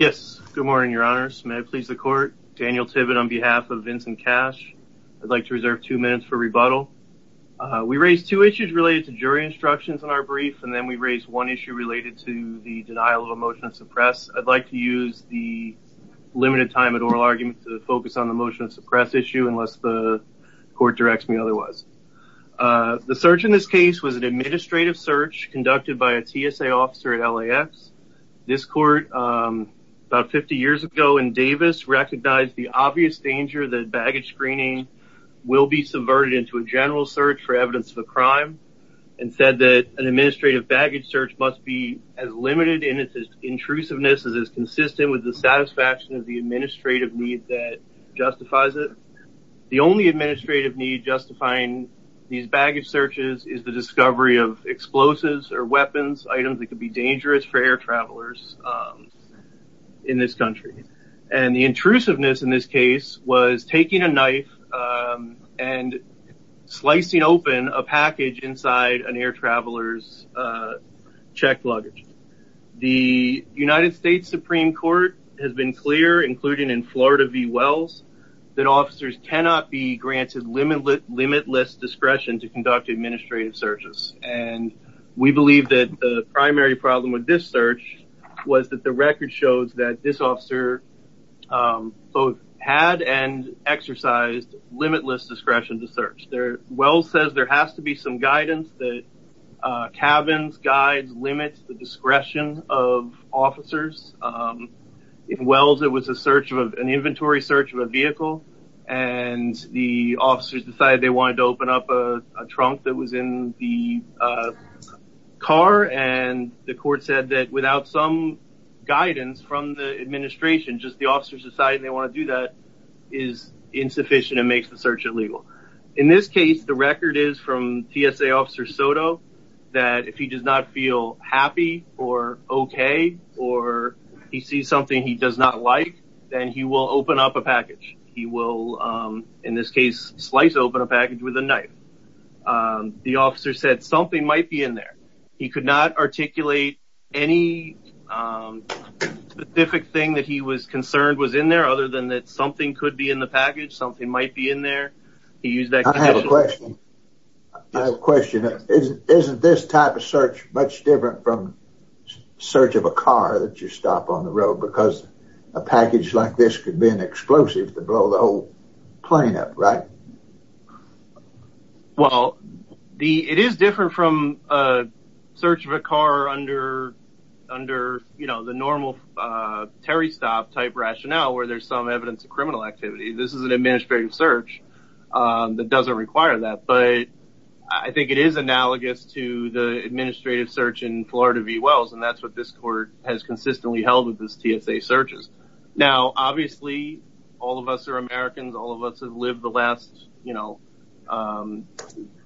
Good morning, your honors. May it please the court. Daniel Tibbitt on behalf of Vincent Cash. I'd like to reserve two minutes for rebuttal. We raised two issues related to jury instructions in our brief and then we raised one issue related to the denial of a motion to suppress. I'd like to use the limited time at oral argument to focus on the motion to suppress issue unless the court directs me otherwise. The search in this case was an administrative search conducted by a TSA officer at LAX. This court about 50 years ago in Davis recognized the obvious danger that baggage screening will be subverted into a general search for evidence of a crime and said that an administrative baggage search must be as limited in its intrusiveness as is consistent with the satisfaction of the administrative need that justifies it. The only administrative need justifying these is the discovery of explosives or weapons, items that could be dangerous for air travelers in this country. And the intrusiveness in this case was taking a knife and slicing open a package inside an air traveler's checked luggage. The United States Supreme Court has been clear, including in Florida v. Wells, that officers cannot be granted limitless discretion to conduct administrative searches. And we believe that the primary problem with this search was that the record shows that this officer both had and exercised limitless discretion to search. Wells says there has to be some guidance that cabins, guides, limits the discretion of officers. In Wells it was an inventory search of a vehicle and the officers decided they wanted to open up a trunk that was in the car and the court said that without some guidance from the administration, just the officers decided they want to do that is insufficient and makes the search illegal. In this case, the record is from TSA officer Soto that if he does not feel happy or okay or he sees something he does not like, then he will open up a package. He will, in this case, slice open a package with a knife. The officer said something might be in there. He could not articulate any specific thing that he was concerned was in there other than that something could be in the package, something might be in there. I have a question. Isn't this type of search much different from search of a car that you stop on the road because a package like this could be an explosive to blow the whole plane up, right? Well, it is different from search of a car under, you know, the normal Terry stop type rationale where there is some evidence of criminal activity. This is an administrative search that does not require that, but I think it is analogous to the administrative search in Florida v. Wells and that is what this court has consistently held with the TSA searches. Obviously, all of us are Americans. All of us have lived the last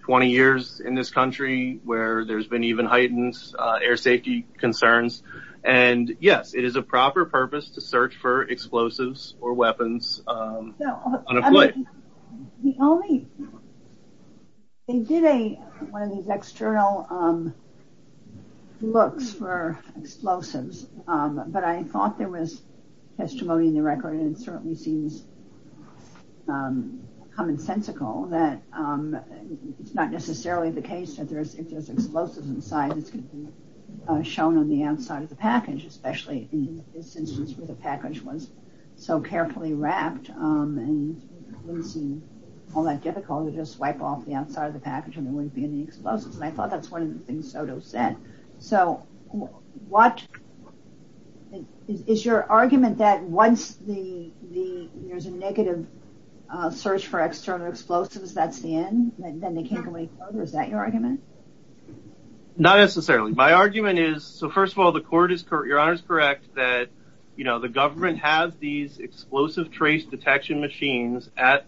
20 years in this country where there has been even heightened air safety concerns. Yes, it is a proper purpose to search for explosives or weapons on a plane. They did one of these external looks for explosives, but I thought there was testimony in the record and it certainly seems commonsensical that it is not necessarily the case that if there is explosives inside, it is going to be shown on the outside of the package, especially in this instance where the package was so carefully wrapped. It wouldn't seem all that difficult to just wipe off the outside of the package and there wouldn't be any explosives. I thought that was one of the things Soto said. Is your argument that once there is a negative search for external explosives, that is the end? Is that your argument? Not necessarily. My argument is, first of all, your Honor is correct that the government has these explosive trace detection machines at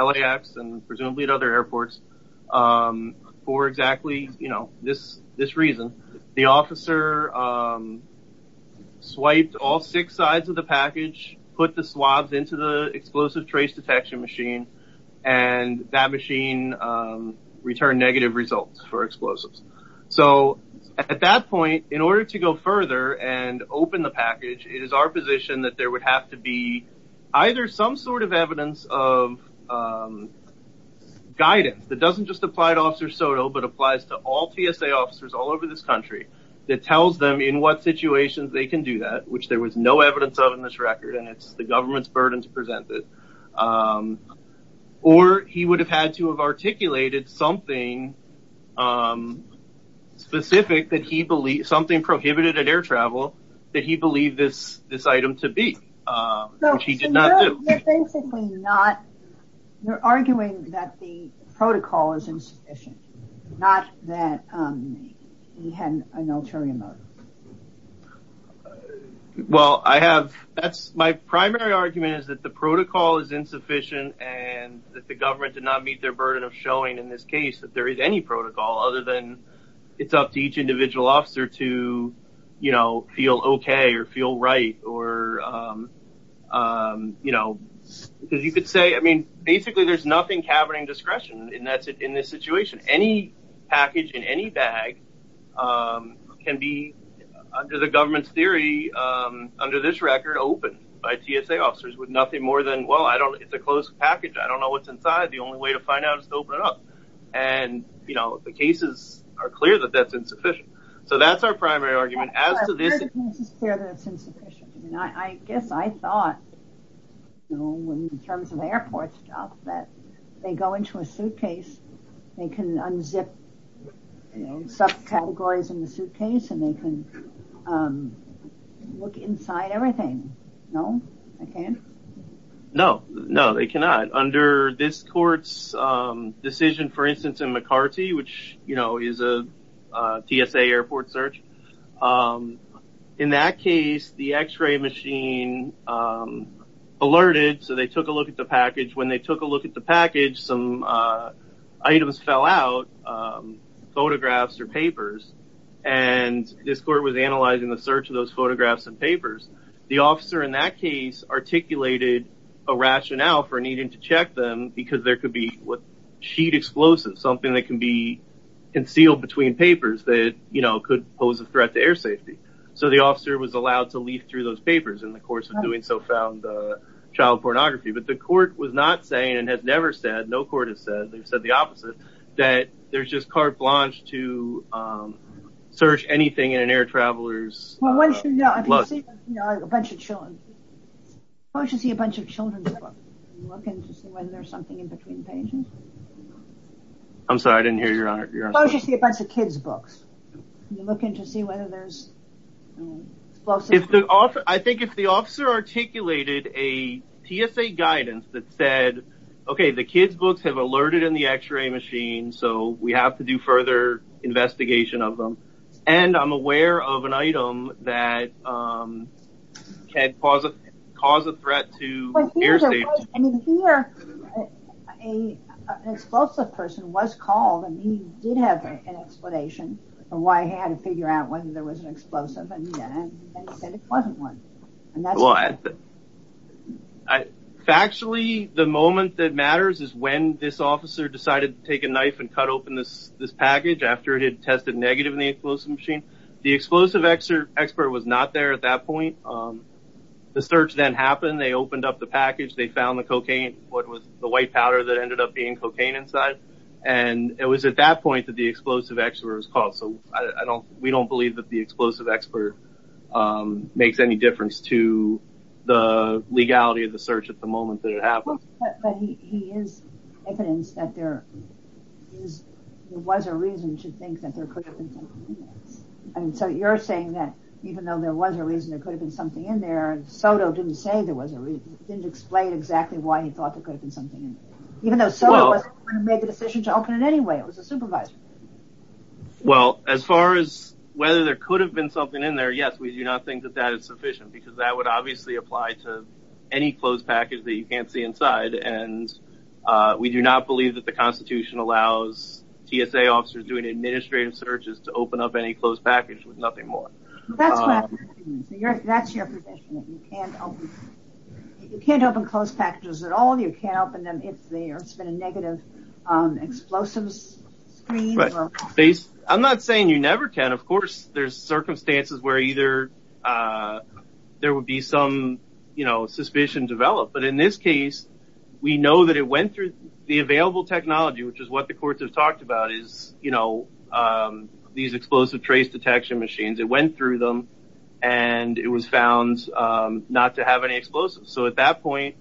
LAX and presumably at other airports for exactly this reason. The officer swiped all six sides of the package, put the swabs into the explosive trace detection machine and that machine returned negative results for explosives. At that point, in order to go further and open the package, it is our position that there would have to be either some sort of evidence of guidance that doesn't just apply to Officer Soto, but applies to all TSA officers all over this country that tells them in what situations they can do that, which there was no burden to present, or he would have had to have articulated something prohibited at air travel that he believed this item to be, which he did not do. You are arguing that the protocol is insufficient and that the government did not meet their burden of showing in this case that there is any protocol other than it is up to each individual officer to feel okay or feel right. Basically, there is nothing cabinet discretion in this situation. Any package in any bag can be, under the government's theory, under this record, open by TSA officers with nothing more than, well, it is a closed package. I don't know what is inside. The only way to find out is to open it up. The cases are clear that that is insufficient. That is our primary argument. It is clear that it is insufficient. I guess I thought in terms of airport stuff that they go into a suitcase, they can unzip subcategories in the suitcase and they can look inside everything. No, they can't? No, they cannot. Under this court's decision, for instance, in McCarty, which is a TSA airport search, in that case, the x-ray machine alerted, so they took a look at the package. When they took a look at the package, some items fell out, photographs or papers, and this court was analyzing the search of those photographs and papers. The officer in that case articulated a rationale for needing to check them because there could be a sheet explosive, something that can be concealed between papers that could pose a threat to air safety. The officer was allowed to leaf through those papers in the course of doing so-found child pornography. The court was not saying and has never said, no court has said, they have said the opposite, that there is just carte blanche to search anything in an air traveler's luggage. If the officer articulated a TSA guidance that said, okay, the kids' books have alerted in the x-ray machine, so we have to do further investigation of them, and I'm aware of an item that could cause a threat to air safety. But here, an explosive person was called, and he did have an explanation of why he had to figure out whether there was an explosive, and he said it wasn't one. Factually, the moment that matters is when this officer decided to take a knife and cut this package after it had tested negative in the explosive machine. The explosive expert was not there at that point. The search then happened, they opened up the package, they found the cocaine, what was the white powder that ended up being cocaine inside, and it was at that point that the explosive expert was called. So, we don't believe that the explosive expert makes any difference to the legality of the search at the moment that it happened. But he is evidence that there was a reason to think that there could have been something in there. So, you're saying that even though there was a reason there could have been something in there, Soto didn't say there was a reason, didn't explain exactly why he thought there could have been something in there. Even though Soto wasn't the one who made the decision to open it anyway, it was a supervisor. Well, as far as whether there could have been something in there, yes, we do not think that that is sufficient, because that would obviously apply to any closed package that you can't see inside, and we do not believe that the Constitution allows TSA officers doing administrative searches to open up any closed package with nothing more. That's your position. You can't open closed packages at all. You can't open them if there's been a negative explosive screen. I'm not saying you never can. Of course, there's circumstances where either there would be some suspicion developed, but in this case, we know that it went through the available technology, which is what the courts have talked about, is these explosive trace detection machines. It went through them and it was found not to have any explosives. So, at that point,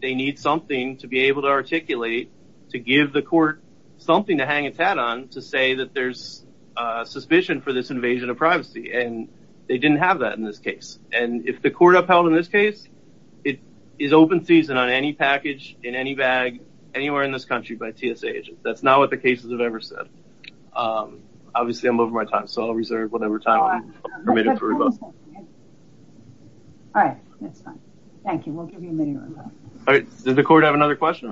they need something to be able to articulate to give the say that there's suspicion for this invasion of privacy, and they didn't have that in this case, and if the court upheld in this case, it is open season on any package in any bag anywhere in this country by TSA agents. That's not what the cases have ever said. Obviously, I'm over my time, so I'll reserve whatever time I'm permitted to revoke. All right. That's fine. Thank you. We'll give you a minute to revoke. Does the court have another question?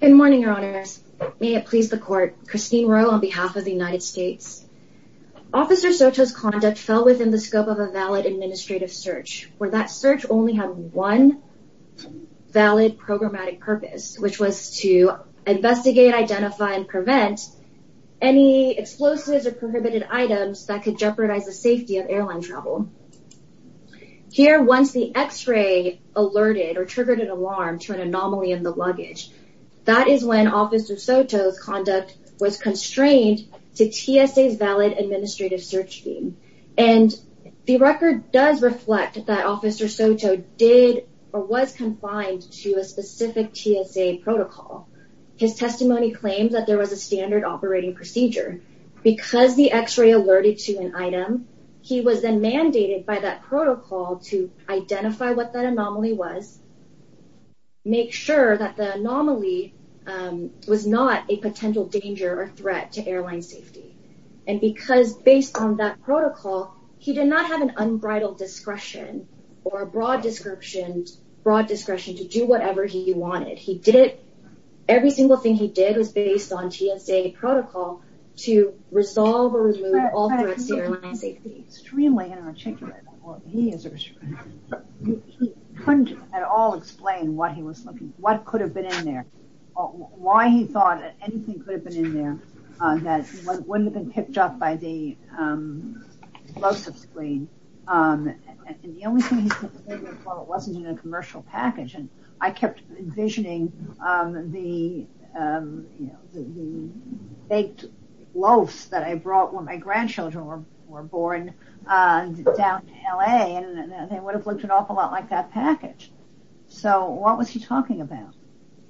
Good morning, Your Honors. May it please the court. Christine Rowe on behalf of the United States. Officer Soto's conduct fell within the scope of a valid administrative search, where that search only had one valid programmatic purpose, which was to investigate, identify, and prevent any explosives or prohibited items that could jeopardize the vehicle. Here, once the x-ray alerted or triggered an alarm to an anomaly in the luggage, that is when Officer Soto's conduct was constrained to TSA's valid administrative search scheme, and the record does reflect that Officer Soto did or was confined to a specific TSA protocol. His testimony claims that there was a standard operating procedure. Because the x-ray alerted to an item, he was then mandated by that protocol to identify what that anomaly was, make sure that the anomaly was not a potential danger or threat to airline safety. Because based on that protocol, he did not have an unbridled discretion or broad discretion to do whatever he wanted. Every single thing he did was based on TSA protocol to resolve or remove all threats to airline safety. That is extremely inarticulate. He couldn't at all explain what he was looking for, what could have been in there, why he thought anything could have been in there that wouldn't have been picked up by the explosive screen. The only thing he said was it wasn't in a commercial package. I kept envisioning the baked loaves that I brought when my grandchildren were born down in L.A. They would have looked an awful lot like that package. What was he talking about?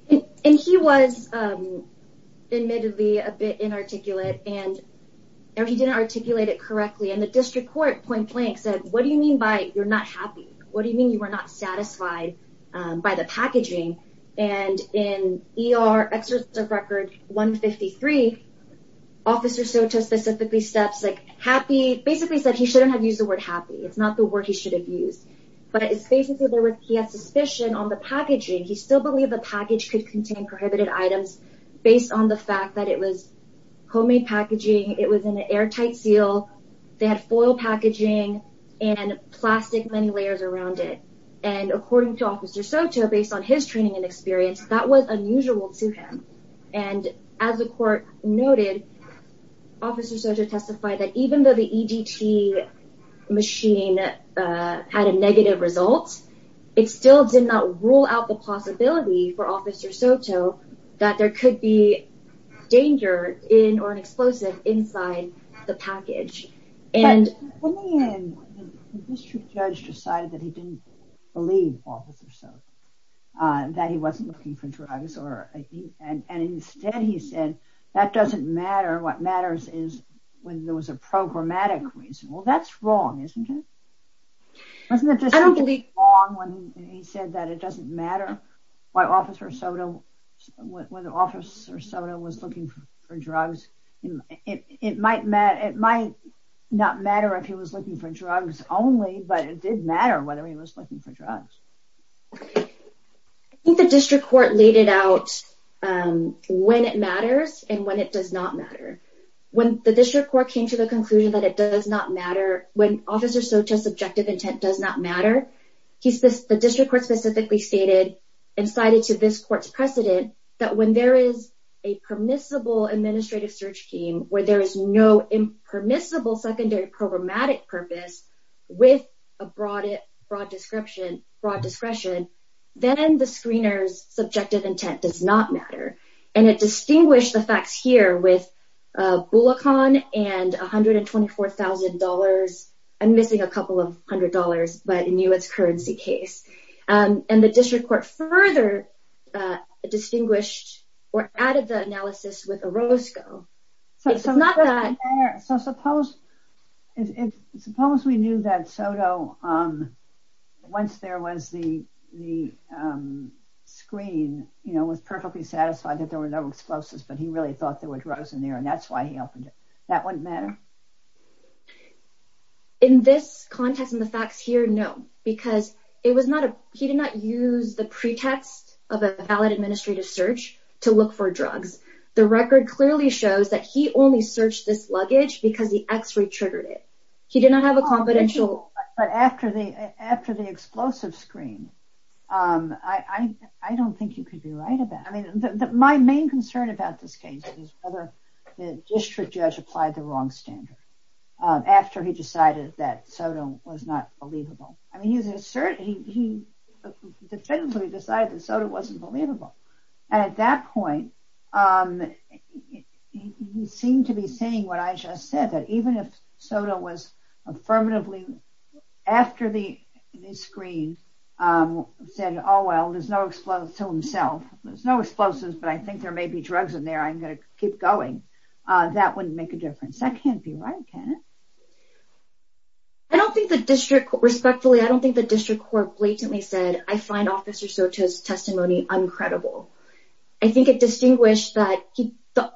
He was admittedly a bit inarticulate. He didn't articulate it correctly. The district court point blank said, what do you mean by you're not happy? What do you mean you were not satisfied by the packaging? In ER Exertive Record 153, Officer Soto specifically said he shouldn't have used the word happy. It's not the word he should have used. He had suspicion on the packaging. He still believed the package could contain prohibited items based on the fact that it was homemade packaging. It was an airtight seal. They had foil packaging and plastic many based on his training and experience. That was unusual to him. As the court noted, Officer Soto testified that even though the EDT machine had a negative result, it still did not rule out the possibility for Officer Soto that there could be danger in or an explosive inside the package. When the district judge decided that he didn't believe Officer Soto, that he wasn't looking for drugs, and instead he said, that doesn't matter. What matters is when there was a programmatic reason. Well, that's wrong, isn't it? Doesn't it just seem to be wrong when he said that it doesn't matter why Officer Soto was looking for drugs? It might not matter if he was looking for drugs only, but it did matter whether he was looking for drugs. I think the district court laid it out when it matters and when it does not matter. When the district court came to the conclusion that it does not matter, when Officer Soto's objective intent does not matter, the district court specifically stated and cited to this court's precedent that when there is a permissible administrative search scheme where there is no impermissible secondary programmatic purpose with a broad discretion, then the screener's subjective intent does not matter. And it distinguished the facts here with Bullocon and $124,000. I'm missing a couple of hundred dollars, but in the U.S. currency case. And the district court further distinguished or added the analysis with Orozco. So, suppose we knew that Soto, once there was the screen, was perfectly satisfied that there were no explosives, but he really thought there were drugs in there and that's why he opened it. That wouldn't matter? In this context and the facts here, no, because he did not use the pretext of a valid administrative search to look for drugs. The record clearly shows that he only searched this luggage because the x-ray triggered it. He did not have a confidential... But after the explosive screen, I don't think you could be right about it. I mean, my main concern about this case is whether the district judge applied the wrong standard after he decided that Soto was not believable. I mean, he definitively decided that Soto wasn't believable. And at that point, he seemed to be saying what I just said, that even if Soto was affirmatively, after the screen, said, oh, well, there's no explosives to himself. There's no explosives, but I think there may be drugs in there. I'm going to keep going. That wouldn't make a difference. That can't be right, can it? Respectfully, I don't think the testimony was uncredible. I think it distinguished that he thought...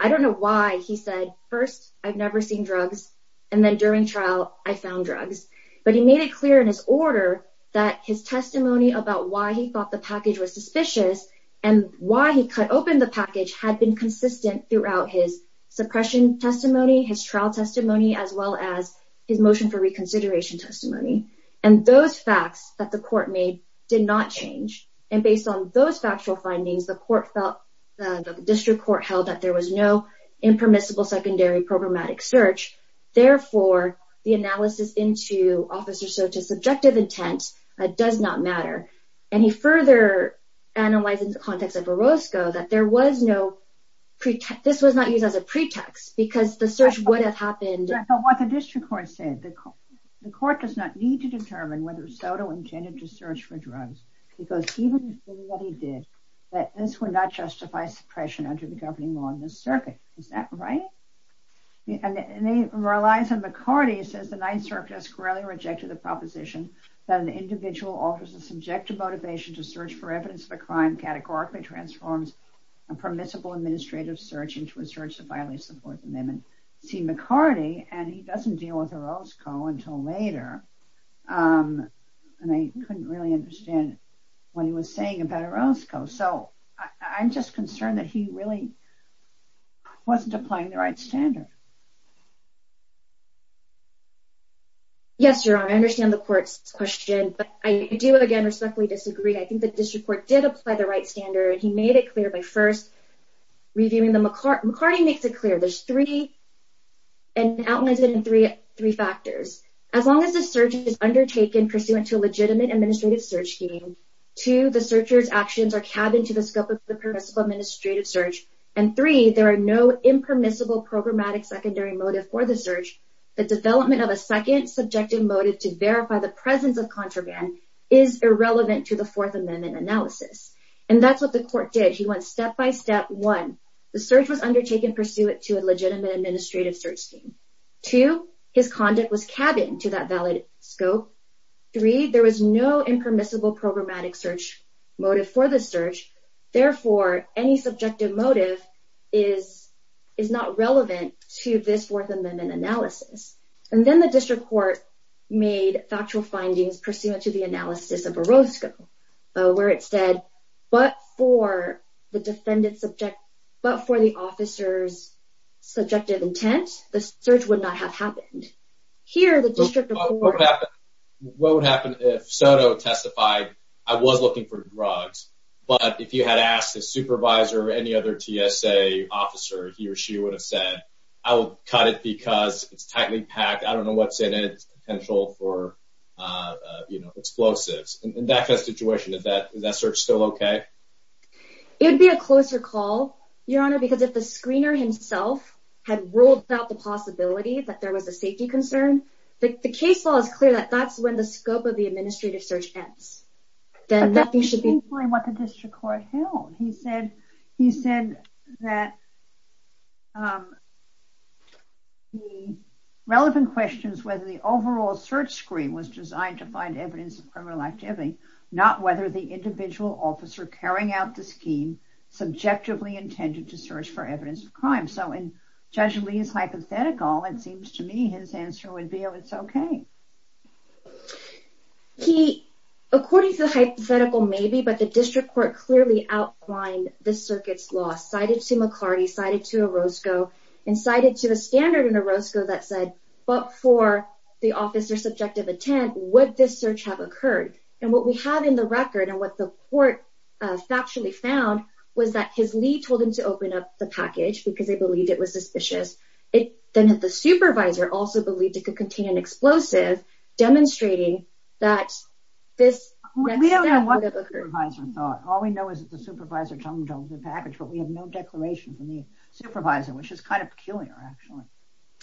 I don't know why he said, first, I've never seen drugs. And then during trial, I found drugs. But he made it clear in his order that his testimony about why he thought the package was suspicious and why he cut open the package had been consistent throughout his suppression testimony, his trial testimony, as well as his motion for reconsideration testimony. And those facts that the court made did not change. And based on those factual findings, the court felt, the district court held that there was no impermissible secondary programmatic search. Therefore, the analysis into Officer Soto's subjective intent does not matter. And he further analyzed in the context of Orozco that there was no pretext. This was not used as a pretext, because the search would have happened. But what the district court said, the court does not need to determine whether Soto intended to use drugs, because he would have said what he did, that this would not justify suppression under the governing law in this circuit. Is that right? And he relies on McCarty, he says the Ninth Circuit has squarely rejected the proposition that an individual offers a subjective motivation to search for evidence of a crime categorically transforms a permissible administrative search into a search to violate the Fourth Amendment. See, McCarty, and he doesn't deal with Orozco until later. And I couldn't really understand what he was saying about Orozco. So I'm just concerned that he really wasn't applying the right standard. Yes, Your Honor, I understand the court's question. But I do, again, respectfully disagree. I think the district court did apply the right standard. He made it clear by first and outlines it in three factors. As long as the search is undertaken pursuant to a legitimate administrative search scheme, two, the searcher's actions are cabined to the scope of the permissible administrative search, and three, there are no impermissible programmatic secondary motive for the search, the development of a second subjective motive to verify the presence of contraband is irrelevant to the Fourth Amendment analysis. And that's what the court did. He went step by step. One, the search was undertaken pursuant to a legitimate administrative search scheme. Two, his conduct was cabined to that valid scope. Three, there was no impermissible programmatic search motive for the search. Therefore, any subjective motive is not relevant to this Fourth Amendment analysis. And then the district court made factual findings pursuant to the analysis of Orozco, where it said, but for the officer's subjective intent, the search would not have happened. Here, the district court... What would happen if Soto testified, I was looking for drugs, but if you had asked his supervisor or any other TSA officer, he or she would have said, I will cut it because it's tightly packed. I don't know what's in it. Potential for explosives. In that kind of situation, is that search still okay? It would be a closer call, Your Honor, because if the screener himself had ruled out the possibility that there was a safety concern, the case law is clear that that's when the scope of the administrative search ends. Then nothing should be... What the district court held. He said that the relevant questions, whether the overall search screen was designed to find evidence of criminal activity, not whether the individual officer carrying out the scheme subjectively intended to search for evidence of crime. So in Judge Lee's hypothetical, it seems to me his answer would be, oh, it's okay. He, according to the hypothetical, maybe, but the district court clearly outlined the circuit's law, cited to McCarty, cited to Orozco, and cited to the standard in Orozco that said, but for the officer's subjective intent, would this search have occurred? And what we have in the record and what the court factually found was that his lead told him to open up the package because they believed it was suspicious. Then the supervisor also believed it could contain an explosive demonstrating that this... We don't know what the supervisor thought. All we know is that the supervisor told him to open the package, but we have no declaration from the supervisor, which is kind of peculiar, actually.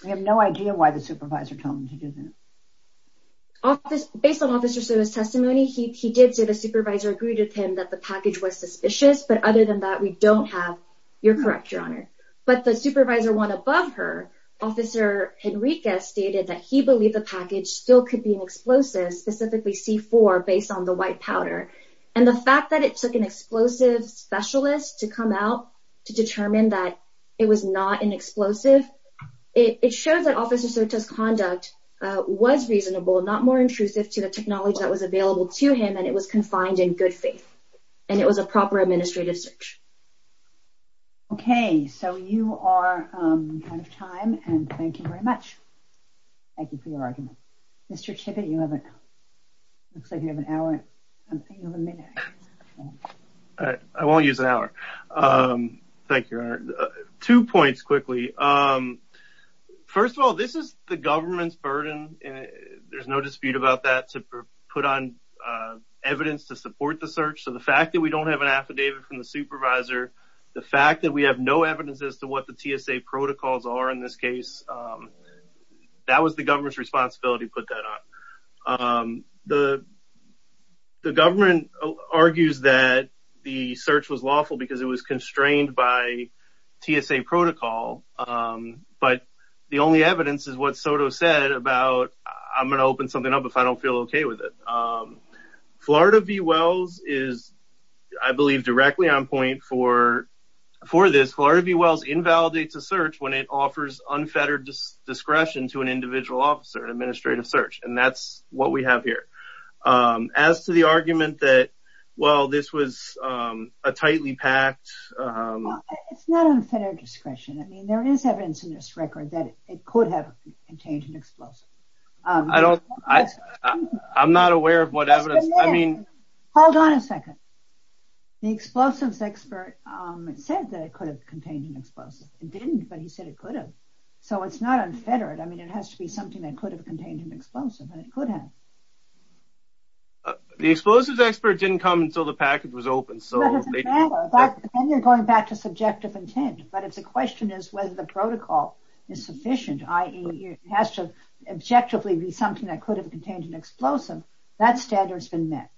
We have no idea why the supervisor told him to do this. Based on Officer Soto's testimony, he did say the supervisor agreed with him that the package was suspicious, but other than that, we don't have... You're correct, Your Honor. But the supervisor went above her. Officer Henriquez stated that he believed the package still could be an explosive, specifically C4, based on the white powder. And the fact that it took an explosive specialist to come out to determine that it was not an explosive, it shows that Officer Soto's conduct was reasonable, not more intrusive to the technology that was available to him, and it was confined in good faith, and it was a proper administrative search. Okay, so you are out of time, and thank you very much. Thank you for your argument. Mr. Tippett, it looks like you have an hour. I won't use an hour. Thank you, Your Honor. Two points quickly. First of all, this is the government's burden, and there's no dispute about that, to put on evidence to support the search. So the fact that we don't have an affidavit from the supervisor, the fact that we have no evidence as to what the TSA protocols are in this case, that was the government's responsibility to put that on. The government argues that the search was lawful because it was constrained by TSA protocol, but the only evidence is what Soto said about, I'm going to open something up if I don't feel okay with it. Florida V. Wells is, I believe, directly on point for this. Florida V. Wells invalidates a search when it offers unfettered discretion to an individual officer, an administrative search, and that's what we have here. As to the argument that, well, this was a tightly packed... It's not unfettered discretion. I mean, there is evidence in this record that it could have contained an explosive. I'm not The explosives expert said that it could have contained an explosive. It didn't, but he said it could have. So it's not unfettered. I mean, it has to be something that could have contained an explosive, and it could have. The explosives expert didn't come until the package was open. And you're going back to subjective intent, but if the question is whether the protocol is sufficient, i.e. it has to objectively be something that could have contained an explosive, that standard has been met.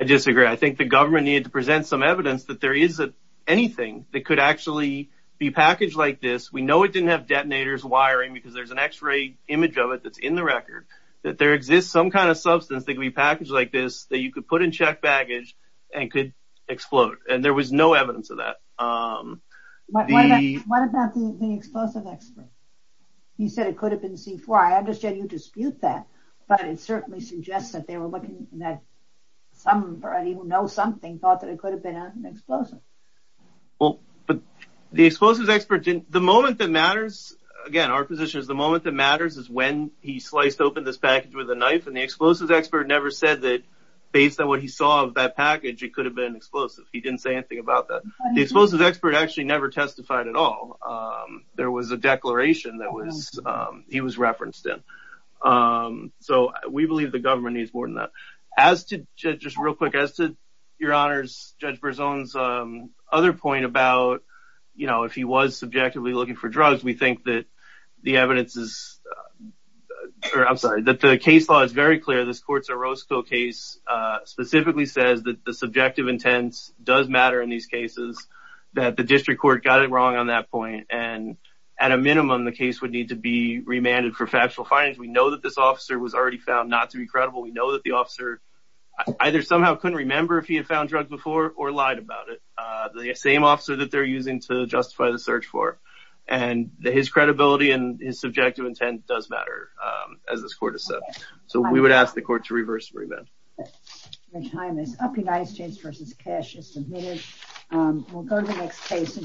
I disagree. I think the government needed to present some evidence that there is anything that could actually be packaged like this. We know it didn't have detonators wiring because there's an x-ray image of it that's in the record, that there exists some kind of substance that could be packaged like this that you could put in checked baggage and could explode. And there was no evidence of that. What about the explosive expert? He said it could have been C4. I understand you dispute that, but it certainly suggests that they were looking at somebody who knows something, thought that it could have been an explosive. Well, but the explosives expert didn't. The moment that matters, again, our position is the moment that matters is when he sliced open this package with a knife. And the explosives expert never said that based on what he saw of that package, it could have been an explosive. He didn't say anything about that. The explosives expert actually never testified at all. There was a declaration that he was referenced in. So we believe the government needs more than that. As to, just real quick, as to your honors, Judge Berzon's other point about, you know, if he was subjectively looking for drugs, we think that the evidence is, or I'm sorry, that the case law is very clear. This Courts of Roscoe case specifically says that the subjective intent does matter in these cases, that the district court got it wrong on that point. And at a minimum, the case would need to be remanded for factual findings. We know that this officer was already found not to be credible. We know that the officer either somehow couldn't remember if he had found drugs before or lied about it. The same officer that they're using to justify the search for. And his credibility and his subjective intent does matter, as this court has said. So we would ask the court to reverse remand. Your time is up. United States v. Cash is submitted. We'll go to the next case.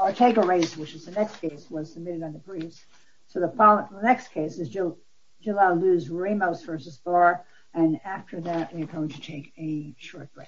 Ortega-Reyes, which is the next case, was submitted on the briefs. So the following, the next case is Jalaluddin Ramos v. Barr. And after that, we are going to take a short break.